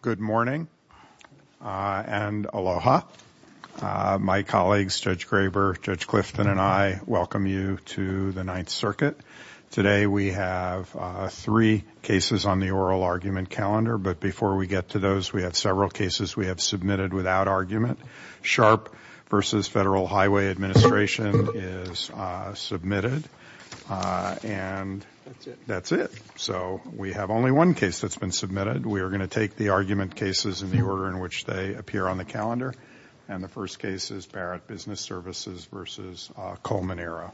Good morning and aloha. My colleagues, Judge Graber, Judge Clifton, and I welcome you to the Ninth Circuit. Today we have three cases on the oral argument calendar, but before we get to those, we have several cases we have submitted without argument. Sharp v. Federal Highway Administration is submitted, and that's it. So we have only one case that's been submitted. We are going to take the argument cases in the order in which they appear on the calendar, and the first case is Barrett Business Services v. Colmenero.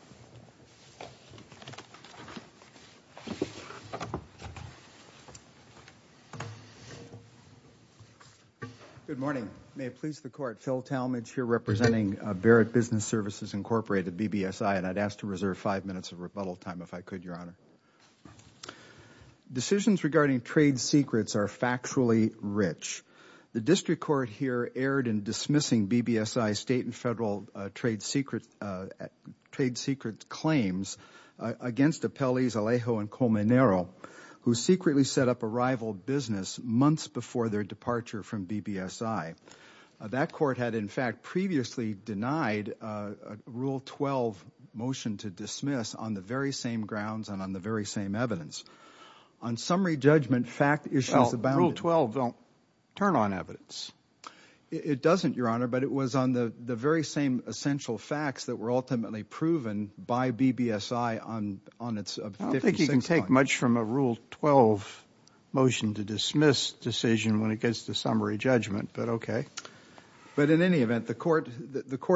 Good morning. May it please the Court, Phil Talmadge here representing Barrett Business Services, Incorporated, BBSI, and I'd ask to reserve five minutes of rebuttal time if I could, Your Honor. Decisions regarding trade secrets are factually rich. The district court here erred in dismissing BBSI's state and federal trade secret claims against Appellees Alejo and Colmenero, who secretly set up a rival business months before their departure from BBSI. That court had, in fact, previously denied a Rule 12 motion to dismiss on the very same grounds and on the very same evidence. On summary judgment, fact issues abounded. Well, Rule 12 don't turn on evidence. It doesn't, Your Honor, but it was on the very same essential facts that were ultimately proven by BBSI on its different six points. I don't think you can take much from a Rule 12 motion to dismiss decision when it gets to summary judgment, but okay. But in any event, the court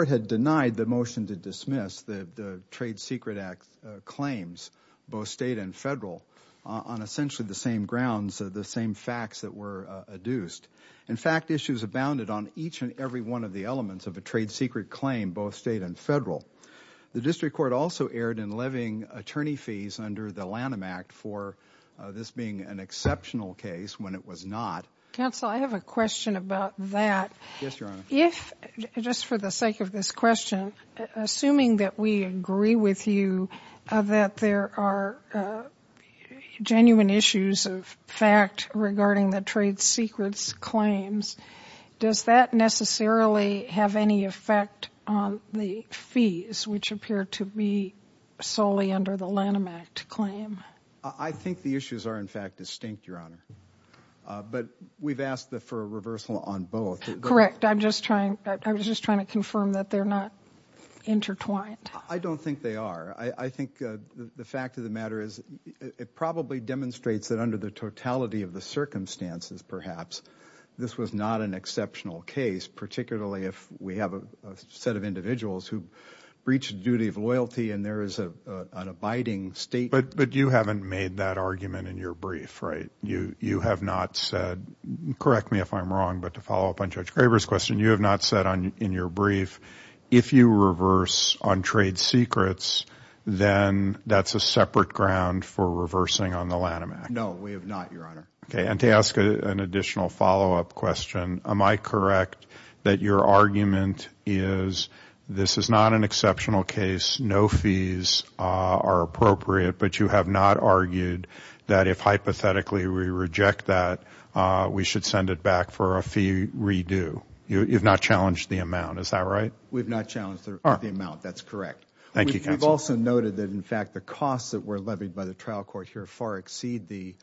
had denied the motion to dismiss the Trade Secret Act claims, both state and federal, on essentially the same grounds, the same facts that were adduced. In fact, issues abounded on each and every one of the elements of a trade secret claim, both state and federal. The district court also erred in levying attorney fees under the Lanham Act for this being an exceptional case when it was not. Counsel, I have a question about that. Yes, Your Honor. If, just for the sake of this question, assuming that we agree with you that there are genuine issues of fact regarding the trade secrets claims, does that necessarily have any effect on the fees which appear to be solely under the Lanham Act claim? I think the issues are, in fact, distinct, Your Honor. But we've asked for a reversal on both. Correct. I'm just trying, I was just trying to confirm that they're not intertwined. I don't think they are. I think the fact of the matter is it probably demonstrates that under the totality of the circumstances, perhaps, this was not an exceptional case, particularly if we have a set of individuals who breached the duty of loyalty and there is an abiding state. But you haven't made that argument in your brief, right? You have not said, correct me if I'm wrong, but to follow up on Judge Graber's question, you have not said in your brief, if you reverse on trade secrets, then that's a separate ground for reversing on the Lanham Act. No, we have not, Your Honor. Okay. And to ask an additional follow-up question, am I correct that your argument is this is not an exceptional case, no fees are appropriate, but you have not argued that if hypothetically we reject that, we should send it back for a fee redo? You've not challenged the amount, is that right? We've not challenged the amount, that's correct. Thank you, counsel. We've also noted that in fact the costs that were levied by the trial court here far exceed the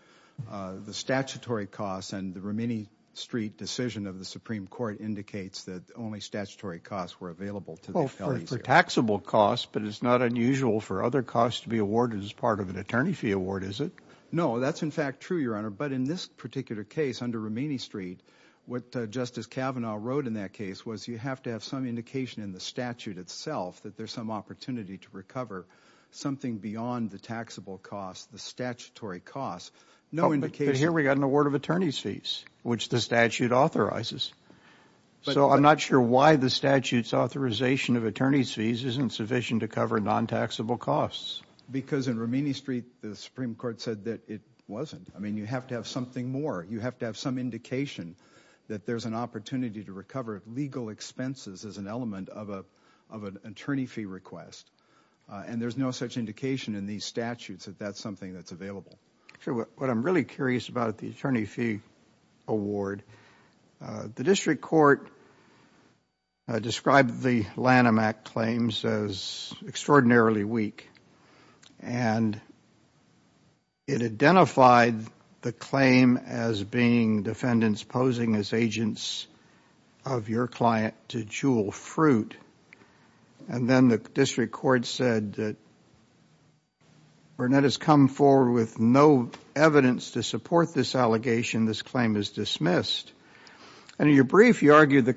statutory costs and the Romini Street decision of the Supreme Court indicates that only statutory costs were available to the appellees. For taxable costs, but it's not unusual for other costs to be awarded as part of an attorney fee award, is it? No, that's in fact true, Your Honor, but in this particular case under Romini Street, what Justice Kavanaugh wrote in that case was you have to have some indication in the statute itself that there's some opportunity to recover something beyond the taxable costs, the statutory costs. No indication But here we've got an award of attorney's fees, which the statute authorizes. So I'm not sure why the statute's authorization of attorney's fees isn't sufficient to cover non-taxable costs. Because in Romini Street, the Supreme Court said that it wasn't. I mean, you have to have something more. You have to have some indication that there's an opportunity to recover legal expenses as an element of an attorney fee request and there's no such indication in these statutes that that's something that's available. Sure. What I'm really curious about the attorney fee award, the district court described the Lanham Act claims as extraordinarily weak. And it identified the claim as being defendants posing as agents of your client to jewel fruit. And then the district court said that Burnett has come forward with no evidence to support this allegation. This claim is dismissed. And in your brief, you argue that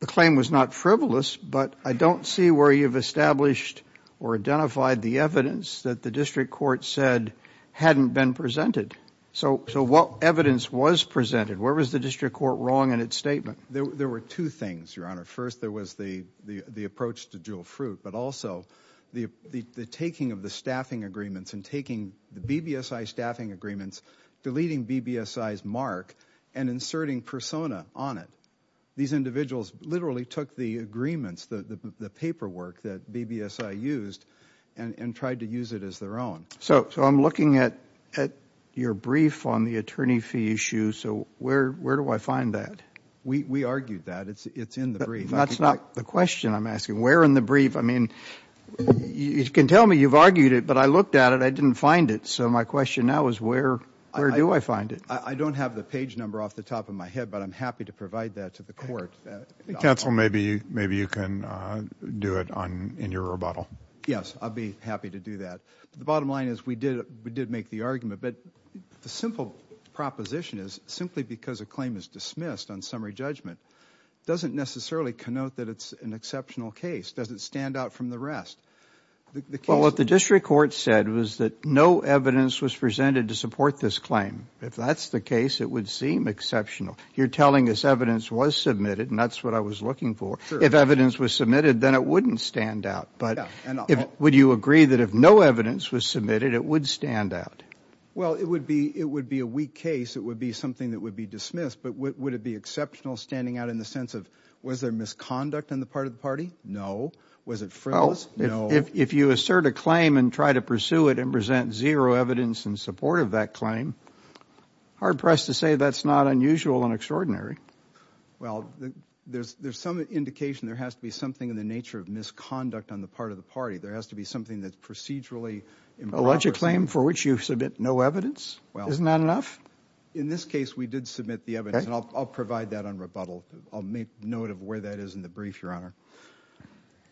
the claim was not frivolous, but I don't see where you've established or identified the evidence that the district court said hadn't been presented. So what evidence was presented? Where was the district court wrong in its statement? There were two things, Your Honor. First, there was the approach to jewel fruit, but also the taking of the staffing agreements and taking the BBSI staffing agreements, deleting BBSI's mark, and inserting persona on it. These individuals literally took the agreements, the paperwork that BBSI used, and tried to use it as their own. So I'm looking at your brief on the attorney fee issue. So where do I find that? We argued that. It's in the brief. That's not the question I'm asking. Where in the brief? I mean, you can tell me you've argued it, but I looked at it. I didn't find it. So my question now is where do I find it? I don't have the page number off the top of my head, but I'm happy to provide that to the court. Counsel, maybe you can do it in your rebuttal. Yes, I'll be happy to do that. The bottom line is we did make the argument, but the simple proposition is simply because a claim is dismissed on summary judgment doesn't necessarily connote that it's an exceptional case. It doesn't stand out from the rest. Well, what the district court said was that no evidence was presented to support this claim. If that's the case, it would seem exceptional. You're telling us evidence was submitted, and that's what I was looking for. If evidence was submitted, then it wouldn't stand out. But would you agree that if no evidence was submitted, it would stand out? Well, it would be it would be a weak case. It would be something that would be dismissed. But would it be exceptional standing out in the sense of was there misconduct on the part of the party? No. Was it frivolous? No. If you assert a claim and try to pursue it and present zero evidence in support of that claim, hard-pressed to say that's not unusual and extraordinary. Well, there's some indication there has to be something in the nature of misconduct on the part of the party. There has to be something that's procedurally improper. Alleged claim for which you submit no evidence? Isn't that enough? In this case, we did submit the evidence, and I'll provide that on rebuttal. I'll make note of where that is in the brief, Your Honor.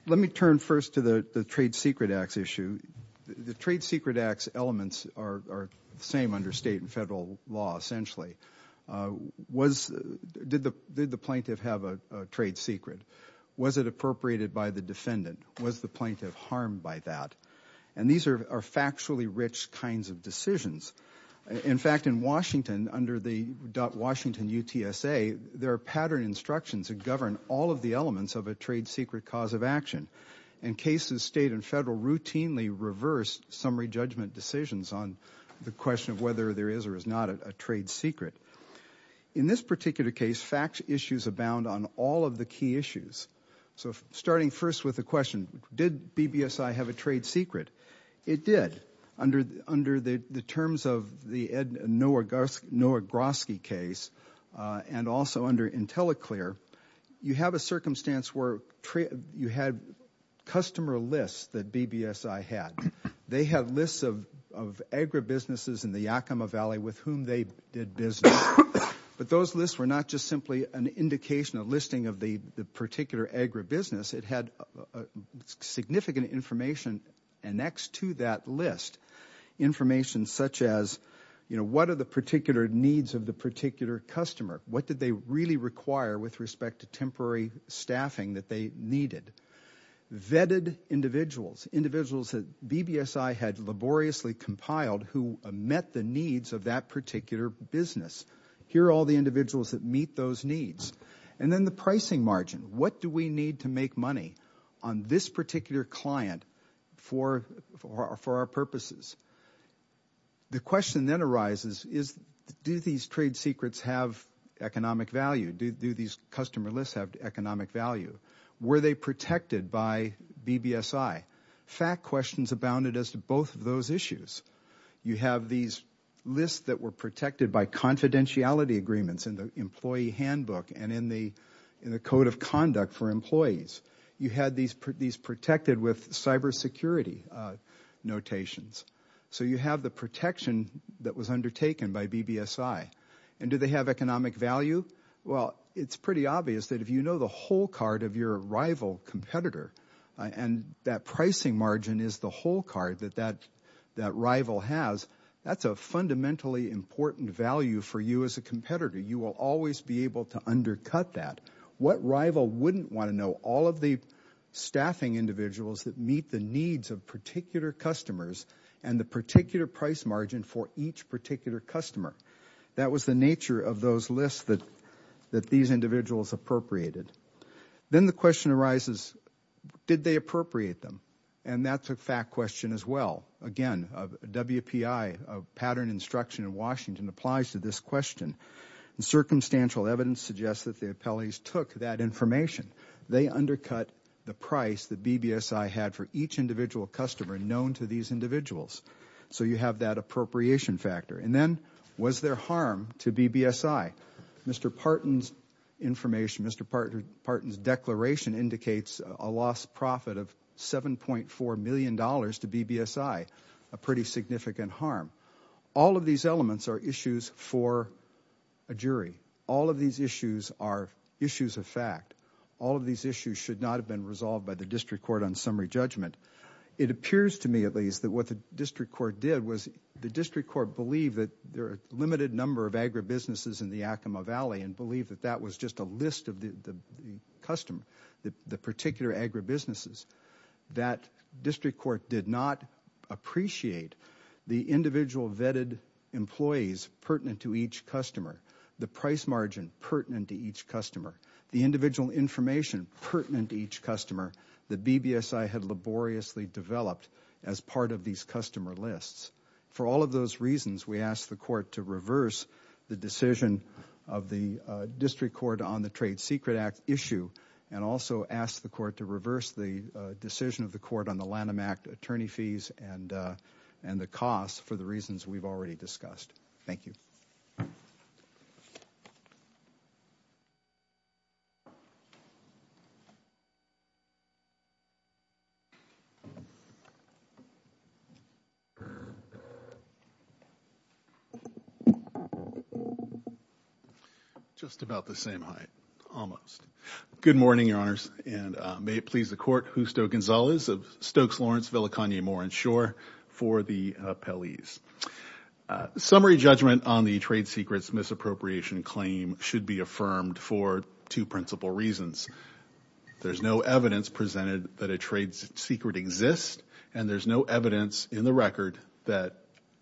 Let me turn first to the trade secret acts issue. The trade secret acts elements are the same under state and federal law, essentially. Did the plaintiff have a trade secret? Was it appropriated by the defendant? Was the plaintiff harmed by that? And these are factually rich kinds of decisions. In fact, in Washington, under the Washington UTSA, there are pattern instructions that govern all of the elements of a trade secret cause of action, and cases state and federal routinely reverse summary judgment decisions on the question of whether there is or is not a trade secret. In this particular case, fact issues abound on all of the key issues. So starting first with the question, did BBSI have a trade secret? It did. Under the terms of the Noah Grosky case and also under IntelliClear, you have a circumstance where you had customer lists that BBSI had. They had lists of agribusinesses in the Yakima Valley with whom they did business, but those lists were not just simply an indication, a listing of the particular agribusiness. It had significant information annexed to that list, information such as, you know, what are the particular needs of the particular customer? What did they really require with respect to temporary staffing that they needed? Vetted individuals, individuals that BBSI had laboriously compiled who met the needs of that particular business. Here are all the individuals that meet those needs. And then the pricing margin. What do we need to make money on this particular client for our purposes? The question that arises is, do these trade secrets have economic value? Do these customer lists have economic value? Were they protected by BBSI? Fact questions abounded as to both of those issues. You have these lists that were protected by confidentiality agreements in the employee handbook and in the code of conduct for employees. You had these protected with cybersecurity notations. So you have the protection that was undertaken by BBSI. And do they have economic value? Well, it's pretty obvious that if you know the whole card of your rival competitor and that pricing margin is the whole card that that rival has, that's a fundamentally important value for you as a competitor. You will always be able to undercut that. What rival wouldn't want to know all of the staffing individuals that meet the needs of particular customers and the particular price margin for each particular customer? That was the nature of those lists that these individuals appropriated. Then the question arises, did they appropriate them? And that's a fact question as well. Again, WPI pattern instruction in Washington applies to this question. Circumstantial evidence suggests that the appellees took that information. They undercut the price that BBSI had for each individual customer known to these individuals. So you have that appropriation factor. And then was there harm to BBSI? Mr. Parton's information, Mr. Parton's declaration indicates a lost profit of $7.4 million to BBSI, a pretty significant harm. All of these elements are issues for a jury. All of these issues are issues of fact. All of these issues should not have been resolved by the district court on summary judgment. It appears to me at least that what the district court did was the district court believed that there are a limited number of agribusinesses in the Yakima Valley and believed that that was just a list of the customer, the particular agribusinesses. That district court did not appreciate the individual vetted employees pertinent to each customer, the price margin pertinent to each customer, the individual information pertinent to each customer that BBSI had laboriously developed as part of these customer lists. For all of those reasons, we ask the court to reverse the decision of the district court on the Trade Secret Act issue and also ask the court to reverse the decision of the court on the Lanham Act attorney fees and the costs for the reasons we've already discussed. Thank you. Just about the same height, almost. Good morning, Your Honors, and may it please the court, Justo Gonzalez of Stokes Lawrence, Villa Kanye Moore and Shore for the appellees. Summary judgment on the trade secrets misappropriation claim should be affirmed for two principal reasons. There's no evidence presented that a trade secret exists and there's no evidence in the record that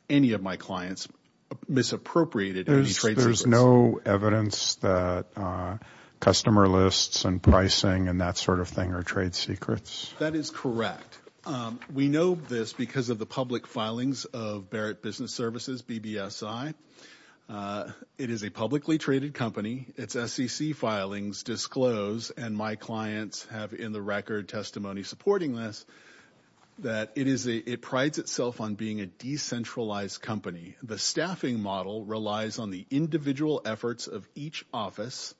any of my clients misappropriated any trade secrets. There's no evidence that customer lists and pricing and that sort of thing are trade secrets? That is correct. We know this because of the public filings of Barrett Business Services, BBSI. It is a publicly traded company. Its SEC filings disclose, and my clients have in the record testimony supporting this, that it prides itself on being a decentralized company. The staffing model relies on the individual efforts of each office.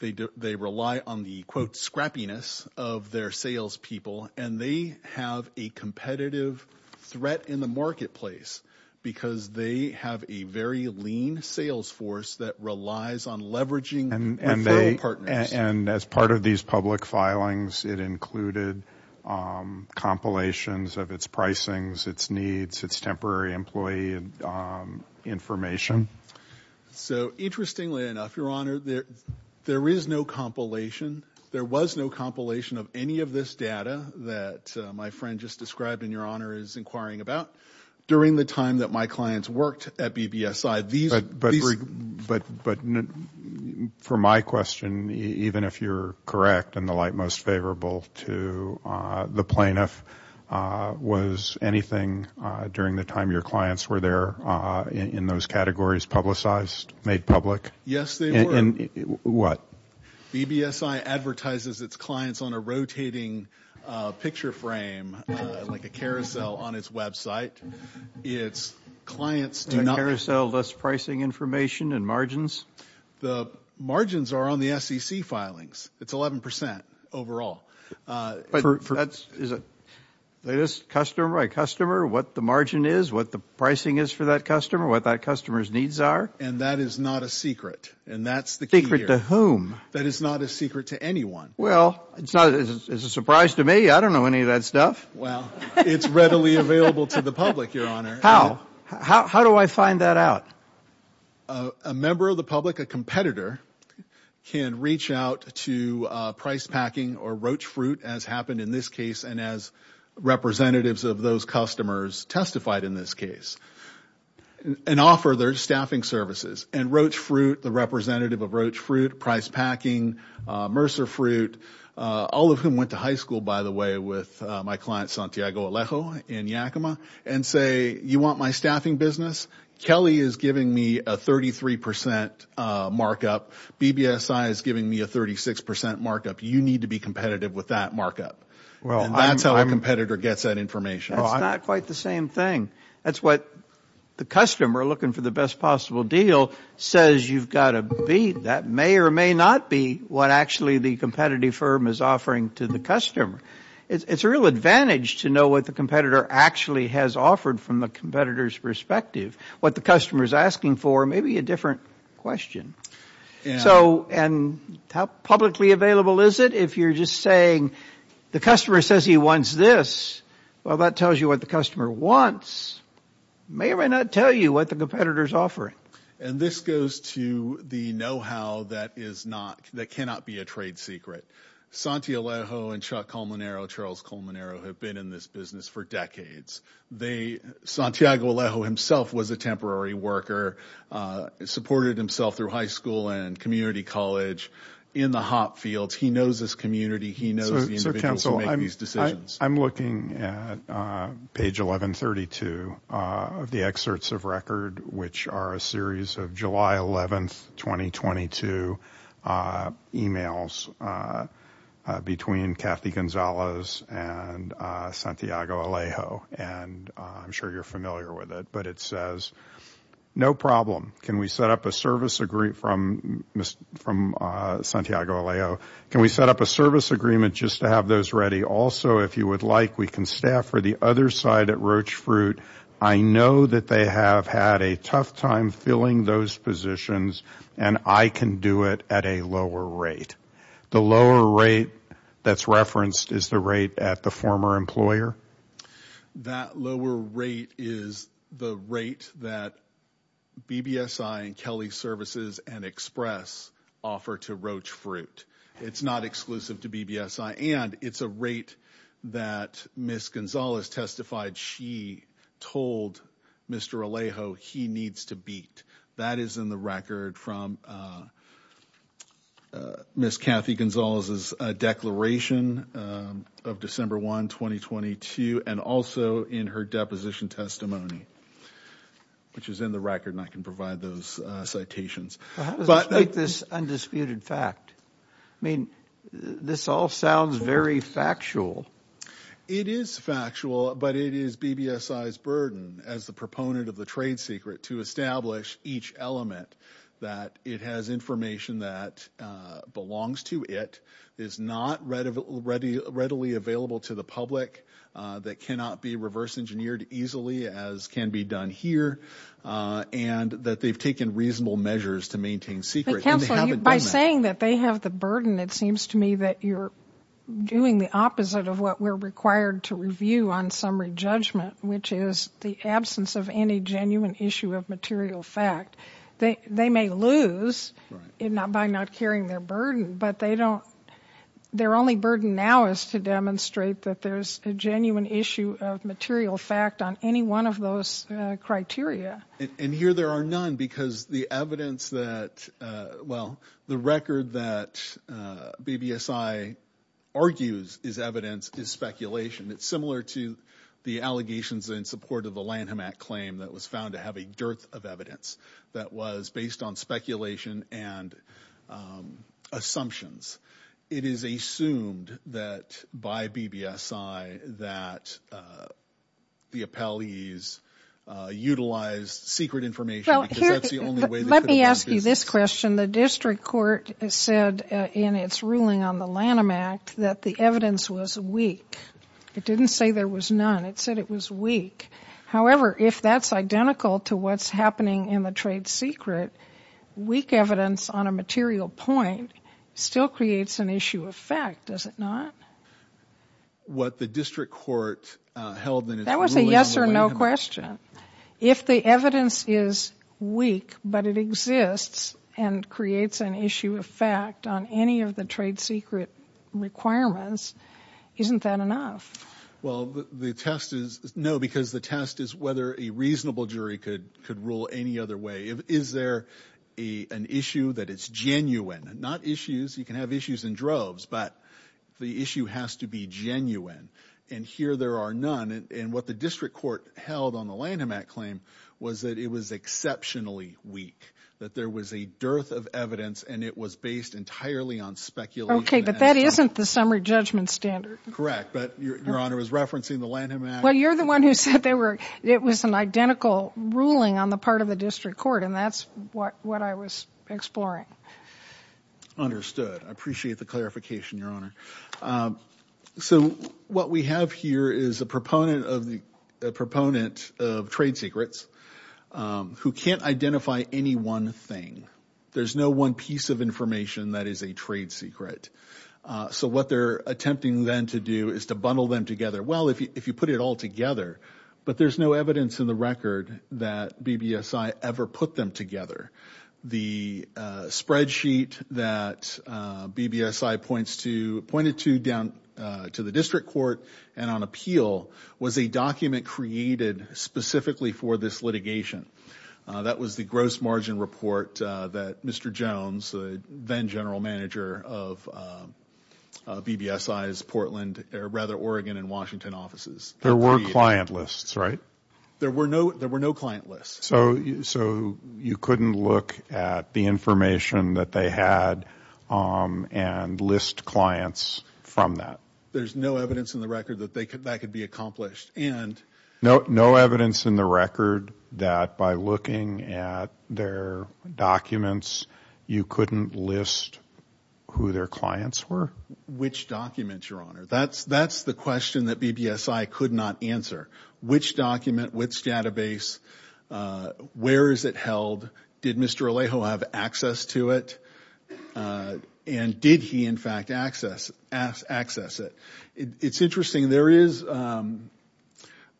They rely on the, quote, scrappiness of their salespeople, and they have a competitive threat in the marketplace because they have a very lean sales force that relies on leveraging referral partners. And as part of these public filings, it included compilations of its pricings, its needs, its temporary employee information. So interestingly enough, Your Honor, there is no compilation. There was no compilation of any of this data that my friend just described and Your Honor is inquiring about during the time that my clients worked at BBSI. But for my question, even if you're correct and the like most favorable to the plaintiff, was anything during the time your clients were there in those categories publicized, made public? Yes, they were. What? BBSI advertises its clients on a rotating picture frame, like a carousel on its website. Its clients do not... The carousel lists pricing information and margins? The margins are on the SEC filings. It's 11% overall. But that is a customer by customer, what the margin is, what the pricing is for that customer, what that customer's needs are? And that is not a secret, and that's the key here. Secret to whom? That is not a secret to anyone. Well, it's a surprise to me. I don't know any of that stuff. Well, it's readily available to the public, Your Honor. How? How do I find that out? A member of the public, a competitor, can reach out to Pricepacking or Roach Fruit, as happened in this case, and as representatives of those customers testified in this case, and offer their staffing services. And Roach Fruit, the representative of Roach Fruit, Pricepacking, Mercer Fruit, all of whom went to high school, by the way, with my client Santiago Alejo in Yakima, and say, you want my staffing business? Kelly is giving me a 33% markup. BBSI is giving me a 36% markup. You need to be competitive with that markup. And that's how a competitor gets that information. That's not quite the same thing. That's what the customer, looking for the best possible deal, says you've got to be. That may or may not be what, actually, the competitive firm is offering to the customer. It's a real advantage to know what the competitor actually has offered from the competitor's perspective. What the customer is asking for may be a different question. And how publicly available is it? If you're just saying the customer says he wants this, well, that tells you what the customer wants. It may or may not tell you what the competitor is offering. And this goes to the know-how that cannot be a trade secret. Santiago Alejo and Chuck Colmonero, Charles Colmonero, have been in this business for decades. Santiago Alejo himself was a temporary worker, supported himself through high school and community college, in the hop fields. He knows this community. He knows the individuals who make these decisions. So, counsel, I'm looking at page 1132 of the excerpts of record, which are a series of July 11th, 2022, emails between Kathy Gonzalez and Santiago Alejo. And I'm sure you're familiar with it. But it says, no problem. Can we set up a service agreement from Santiago Alejo? Can we set up a service agreement just to have those ready? Also, if you would like, we can staff for the other side at Roach Fruit. I know that they have had a tough time filling those positions, and I can do it at a lower rate. The lower rate that's referenced is the rate at the former employer? That lower rate is the rate that BBSI and Kelly Services and Express offer to Roach Fruit. It's not exclusive to BBSI, and it's a rate that Ms. Gonzalez testified she told Mr. Alejo he needs to beat. That is in the record from Ms. Kathy Gonzalez's declaration of December 1, 2022, and also in her deposition testimony, which is in the record, and I can provide those citations. How does this make this undisputed fact? I mean, this all sounds very factual. It is factual, but it is BBSI's burden as the proponent of the trade secret to establish each element, that it has information that belongs to it, is not readily available to the public, that cannot be reverse engineered easily as can be done here, and that they've taken reasonable measures to maintain secret. By saying that they have the burden, it seems to me that you're doing the opposite of what we're required to review on summary judgment, which is the absence of any genuine issue of material fact. They may lose by not carrying their burden, but their only burden now is to demonstrate that there's a genuine issue of material fact on any one of those criteria. And here there are none because the evidence that, well, the record that BBSI argues is evidence is speculation. It's similar to the allegations in support of the Lanham Act claim that was found to have a dearth of evidence that was based on speculation and assumptions. It is assumed that by BBSI that the appellees utilized secret information because that's the only way they could have done business. Let me ask you this question. The district court said in its ruling on the Lanham Act that the evidence was weak. It didn't say there was none. It said it was weak. However, if that's identical to what's happening in the trade secret, weak evidence on a material point still creates an issue of fact, does it not? What the district court held in its ruling on the Lanham Act. That was a yes or no question. If the evidence is weak but it exists and creates an issue of fact on any of the trade secret requirements, isn't that enough? Well, the test is no because the test is whether a reasonable jury could rule any other way. Is there an issue that is genuine? Not issues. You can have issues in droves, but the issue has to be genuine. And here there are none. And what the district court held on the Lanham Act claim was that it was exceptionally weak, that there was a dearth of evidence and it was based entirely on speculation. Okay, but that isn't the summary judgment standard. Correct, but Your Honor is referencing the Lanham Act. Well, you're the one who said it was an identical ruling on the part of the district court and that's what I was exploring. Understood. I appreciate the clarification, Your Honor. So what we have here is a proponent of trade secrets who can't identify any one thing. There's no one piece of information that is a trade secret. So what they're attempting then to do is to bundle them together. Well, if you put it all together, but there's no evidence in the record that BBSI ever put them together. The spreadsheet that BBSI pointed to down to the district court and on appeal was a document created specifically for this litigation. That was the gross margin report that Mr. Jones, the then general manager of BBSI's Portland, or rather Oregon and Washington offices. There were client lists, right? There were no client lists. So you couldn't look at the information that they had and list clients from that? There's no evidence in the record that that could be accomplished. No evidence in the record that by looking at their documents you couldn't list who their clients were? Which documents, Your Honor? That's the question that BBSI could not answer. Which document, which database, where is it held, did Mr. Alejo have access to it, and did he in fact access it? It's interesting. There is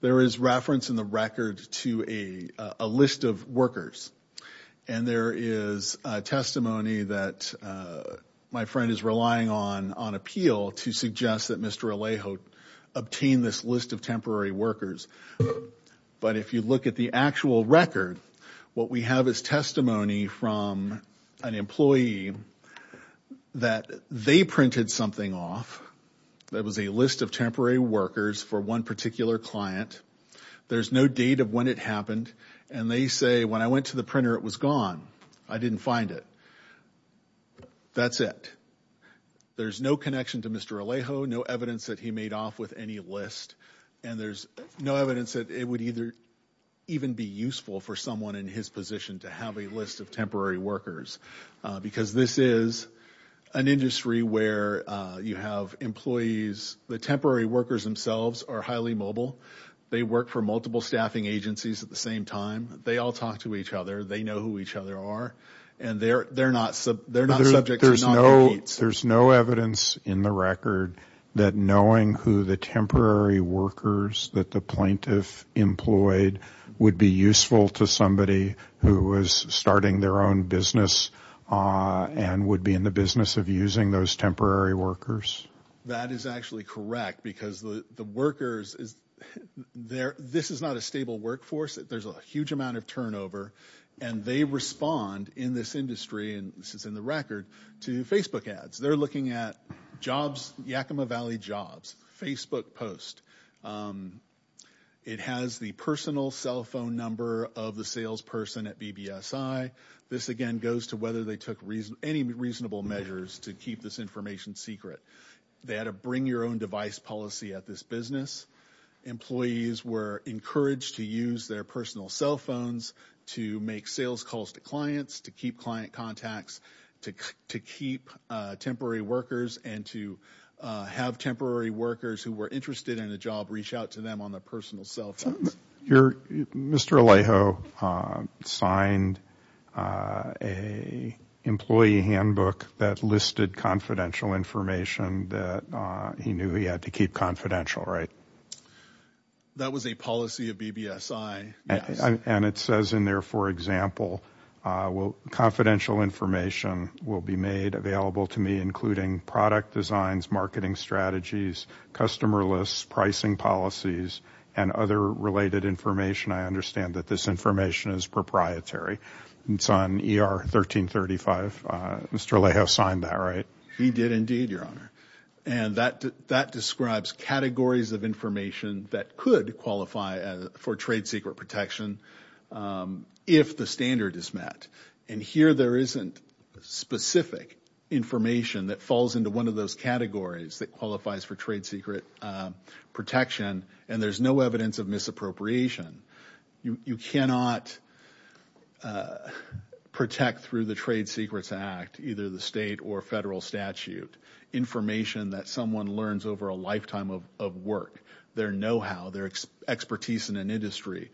reference in the record to a list of workers. And there is testimony that my friend is relying on on appeal to suggest that Mr. Alejo obtained this list of temporary workers. But if you look at the actual record, what we have is testimony from an employee that they printed something off that was a list of temporary workers for one particular client. There's no date of when it happened. And they say, when I went to the printer, it was gone. I didn't find it. That's it. There's no connection to Mr. Alejo, no evidence that he made off with any list. And there's no evidence that it would even be useful for someone in his position to have a list of temporary workers. Because this is an industry where you have employees, the temporary workers themselves are highly mobile. They work for multiple staffing agencies at the same time. They all talk to each other. They know who each other are. And they're not subject to non-competes. There's no evidence in the record that knowing who the temporary workers that the plaintiff employed would be useful to somebody who was starting their own business and would be in the business of using those temporary workers. That is actually correct because the workers, this is not a stable workforce. There's a huge amount of turnover. And they respond in this industry, and this is in the record, to Facebook ads. They're looking at jobs, Yakima Valley jobs, Facebook posts. It has the personal cell phone number of the salesperson at BBSI. This, again, goes to whether they took any reasonable measures to keep this information secret. They had a bring-your-own-device policy at this business. Employees were encouraged to use their personal cell phones to make sales calls to clients, to keep client contacts, to keep temporary workers, and to have temporary workers who were interested in a job reach out to them on their personal cell phones. Mr. Alejo signed an employee handbook that listed confidential information that he knew he had to keep confidential, right? That was a policy of BBSI. And it says in there, for example, confidential information will be made available to me, including product designs, marketing strategies, customer lists, pricing policies, and other related information. I understand that this information is proprietary. It's on ER 1335. Mr. Alejo signed that, right? He did indeed, Your Honor. And that describes categories of information that could qualify for trade secret protection if the standard is met. And here there isn't specific information that falls into one of those categories that qualifies for trade secret protection, and there's no evidence of misappropriation. You cannot protect through the Trade Secrets Act, either the state or federal statute, information that someone learns over a lifetime of work, their know-how, their expertise in an industry.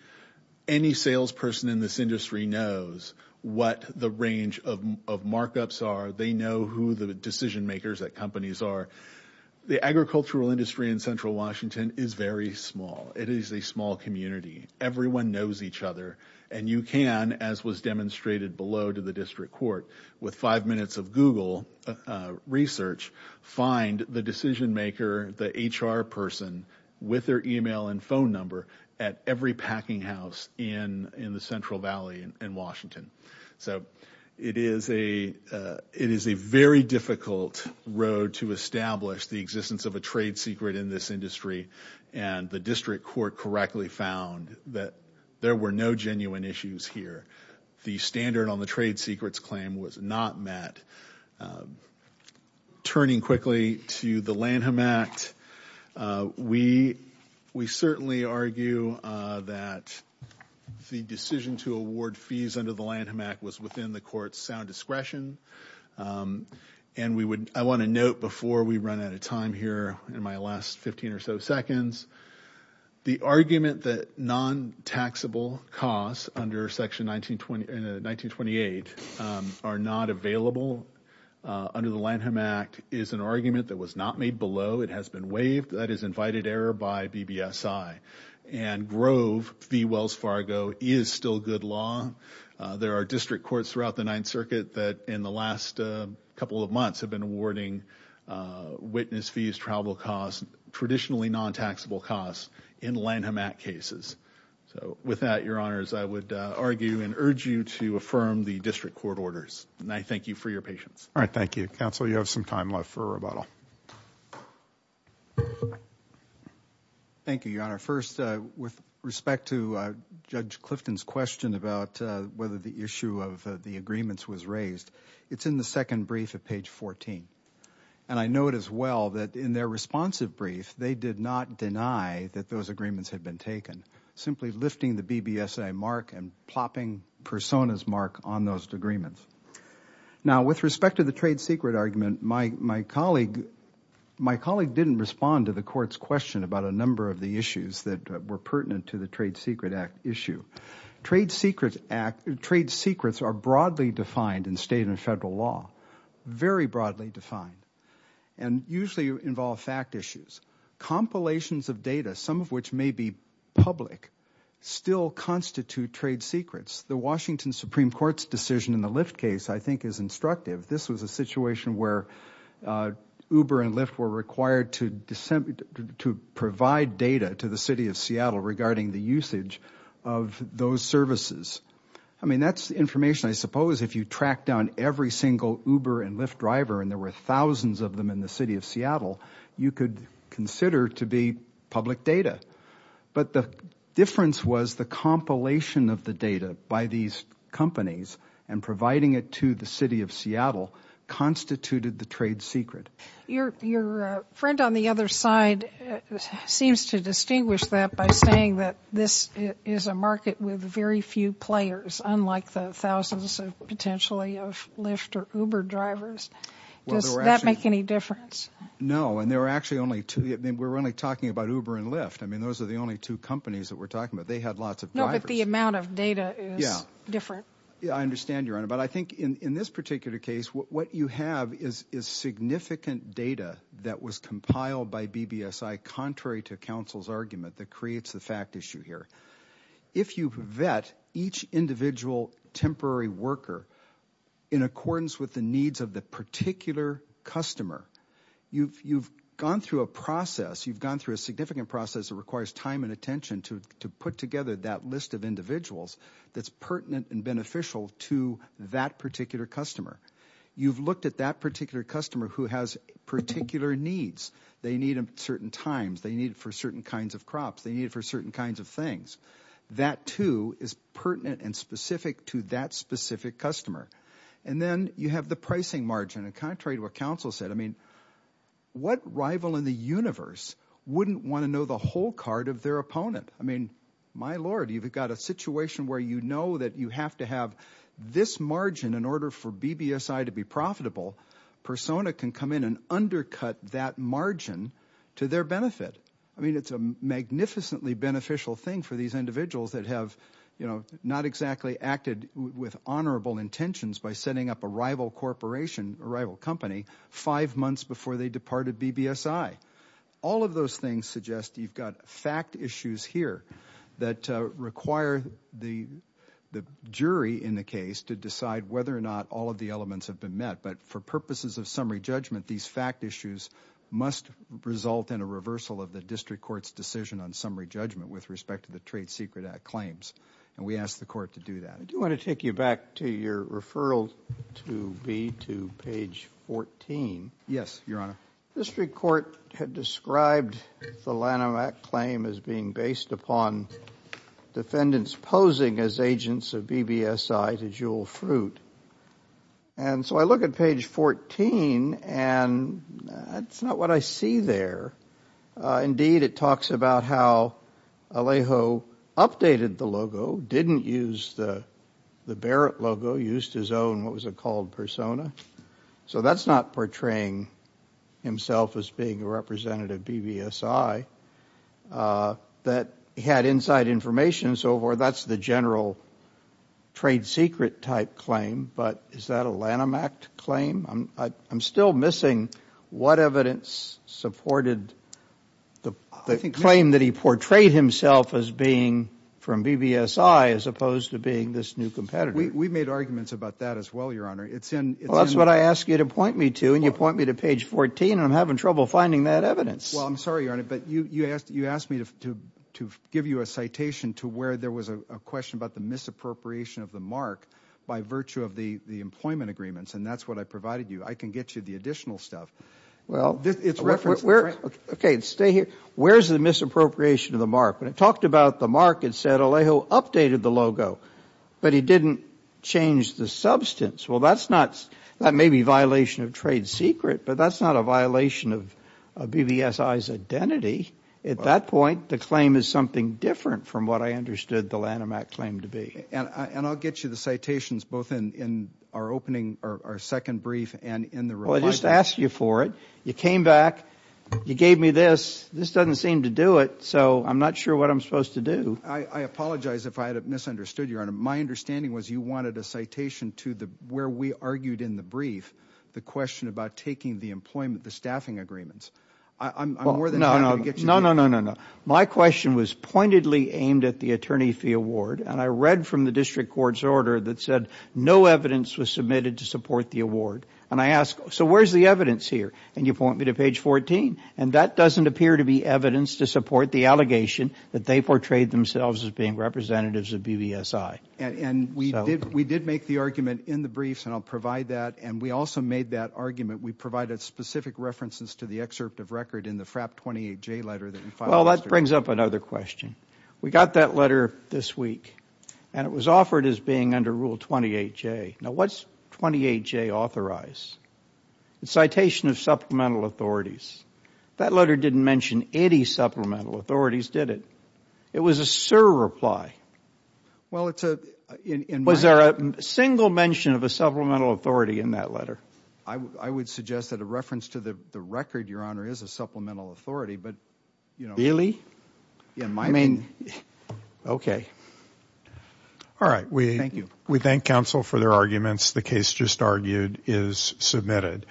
Any salesperson in this industry knows what the range of markups are. They know who the decision makers at companies are. The agricultural industry in Central Washington is very small. It is a small community. Everyone knows each other. And you can, as was demonstrated below to the district court, with five minutes of Google research, find the decision maker, the HR person, with their e-mail and phone number, at every packing house in the Central Valley in Washington. So it is a very difficult road to establish the existence of a trade secret in this industry, and the district court correctly found that there were no genuine issues here. The standard on the trade secrets claim was not met. Turning quickly to the Lanham Act, we certainly argue that the decision to award fees under the Lanham Act was within the court's sound discretion. And I want to note before we run out of time here in my last 15 or so seconds, the argument that non-taxable costs under Section 1928 are not available under the Lanham Act is an argument that was not made below. It has been waived. That is invited error by BBSI. And Grove v. Wells Fargo is still good law. There are district courts throughout the Ninth Circuit that in the last couple of months have been awarding witness fees, travel costs, traditionally non-taxable costs in Lanham Act cases. So with that, Your Honors, I would argue and urge you to affirm the district court orders. And I thank you for your patience. All right. Thank you. Counsel, you have some time left for rebuttal. Thank you, Your Honor. First, with respect to Judge Clifton's question about whether the issue of the agreements was raised, it's in the second brief at page 14. And I note as well that in their responsive brief, they did not deny that those agreements had been taken, simply lifting the BBSI mark and plopping Persona's mark on those agreements. Now, with respect to the trade secret argument, my colleague didn't respond to the court's question about a number of the issues that were pertinent to the Trade Secret Act issue. Trade secrets are broadly defined in state and federal law, very broadly defined, and usually involve fact issues. Compilations of data, some of which may be public, still constitute trade secrets. The Washington Supreme Court's decision in the Lyft case, I think, is instructive. This was a situation where Uber and Lyft were required to provide data to the city of Seattle regarding the usage of those services. I mean, that's information, I suppose, if you track down every single Uber and Lyft driver, and there were thousands of them in the city of Seattle, you could consider to be public data. But the difference was the compilation of the data by these companies and providing it to the city of Seattle constituted the trade secret. Your friend on the other side seems to distinguish that by saying that this is a market with very few players, unlike the thousands potentially of Lyft or Uber drivers. Does that make any difference? No, and there were actually only two. We're only talking about Uber and Lyft. I mean, those are the only two companies that we're talking about. They had lots of drivers. No, but the amount of data is different. Yeah, I understand, Your Honor. But I think in this particular case, what you have is significant data that was compiled by BBSI, contrary to counsel's argument that creates the fact issue here. If you vet each individual temporary worker in accordance with the needs of the particular customer, you've gone through a process, you've gone through a significant process that requires time and attention to put together that list of individuals that's pertinent and beneficial to that particular customer. You've looked at that particular customer who has particular needs. They need them at certain times. They need it for certain kinds of crops. They need it for certain kinds of things. That, too, is pertinent and specific to that specific customer. And then you have the pricing margin. And contrary to what counsel said, I mean, what rival in the universe wouldn't want to know the whole card of their opponent? I mean, my Lord, you've got a situation where you know that you have to have this margin in order for BBSI to be profitable. Persona can come in and undercut that margin to their benefit. I mean, it's a magnificently beneficial thing for these individuals that have, you know, not exactly acted with honorable intentions by setting up a rival corporation, a rival company, five months before they departed BBSI. All of those things suggest you've got fact issues here that require the jury in the case to decide whether or not all of the elements have been met. But for purposes of summary judgment, these fact issues must result in a reversal of the district court's decision on summary judgment with respect to the Trade Secret Act claims. And we ask the court to do that. I do want to take you back to your referral to me to page 14. Yes, Your Honor. District court had described the Lanham Act claim as being based upon defendants posing as agents of BBSI to jewel fruit. And so I look at page 14, and that's not what I see there. Indeed, it talks about how Alejo updated the logo, didn't use the Barrett logo, used his own, what was it called, persona. So that's not portraying himself as being a representative of BBSI. That had inside information, so that's the general trade secret type claim. But is that a Lanham Act claim? I'm still missing what evidence supported the claim that he portrayed himself as being from BBSI as opposed to being this new competitor. We made arguments about that as well, Your Honor. Well, that's what I ask you to point me to, and you point me to page 14, and I'm having trouble finding that evidence. Well, I'm sorry, Your Honor, but you asked me to give you a citation to where there was a question about the misappropriation of the mark by virtue of the employment agreements, and that's what I provided you. I can get you the additional stuff. Well, okay, stay here. Where's the misappropriation of the mark? When it talked about the mark, it said Alejo updated the logo, but he didn't change the substance. Well, that may be a violation of trade secret, but that's not a violation of BBSI's identity. At that point, the claim is something different from what I understood the Lanham Act claim to be. And I'll get you the citations both in our opening, our second brief and in the reminder. Well, I just asked you for it. You came back. You gave me this. This doesn't seem to do it, so I'm not sure what I'm supposed to do. I apologize if I had misunderstood, Your Honor. My understanding was you wanted a citation to where we argued in the brief the question about taking the employment, the staffing agreements. I'm more than happy to get you that. No, no, no, no, no. My question was pointedly aimed at the attorney fee award, and I read from the district court's order that said no evidence was submitted to support the award. And I asked, so where's the evidence here? And you point me to page 14, and that doesn't appear to be evidence to support the allegation that they portrayed themselves as being representatives of BBSI. And we did make the argument in the briefs, and I'll provide that, and we also made that argument. We provided specific references to the excerpt of record in the FRAP 28J letter that you filed yesterday. Well, that brings up another question. We got that letter this week, and it was offered as being under Rule 28J. Now, what's 28J authorize? It's citation of supplemental authorities. That letter didn't mention any supplemental authorities, did it? It was a surreply. Well, it's a- Was there a single mention of a supplemental authority in that letter? I would suggest that a reference to the record, Your Honor, is a supplemental authority, but, you know- Really? I mean, okay. All right. Thank you. We thank counsel for their arguments. The case just argued is submitted.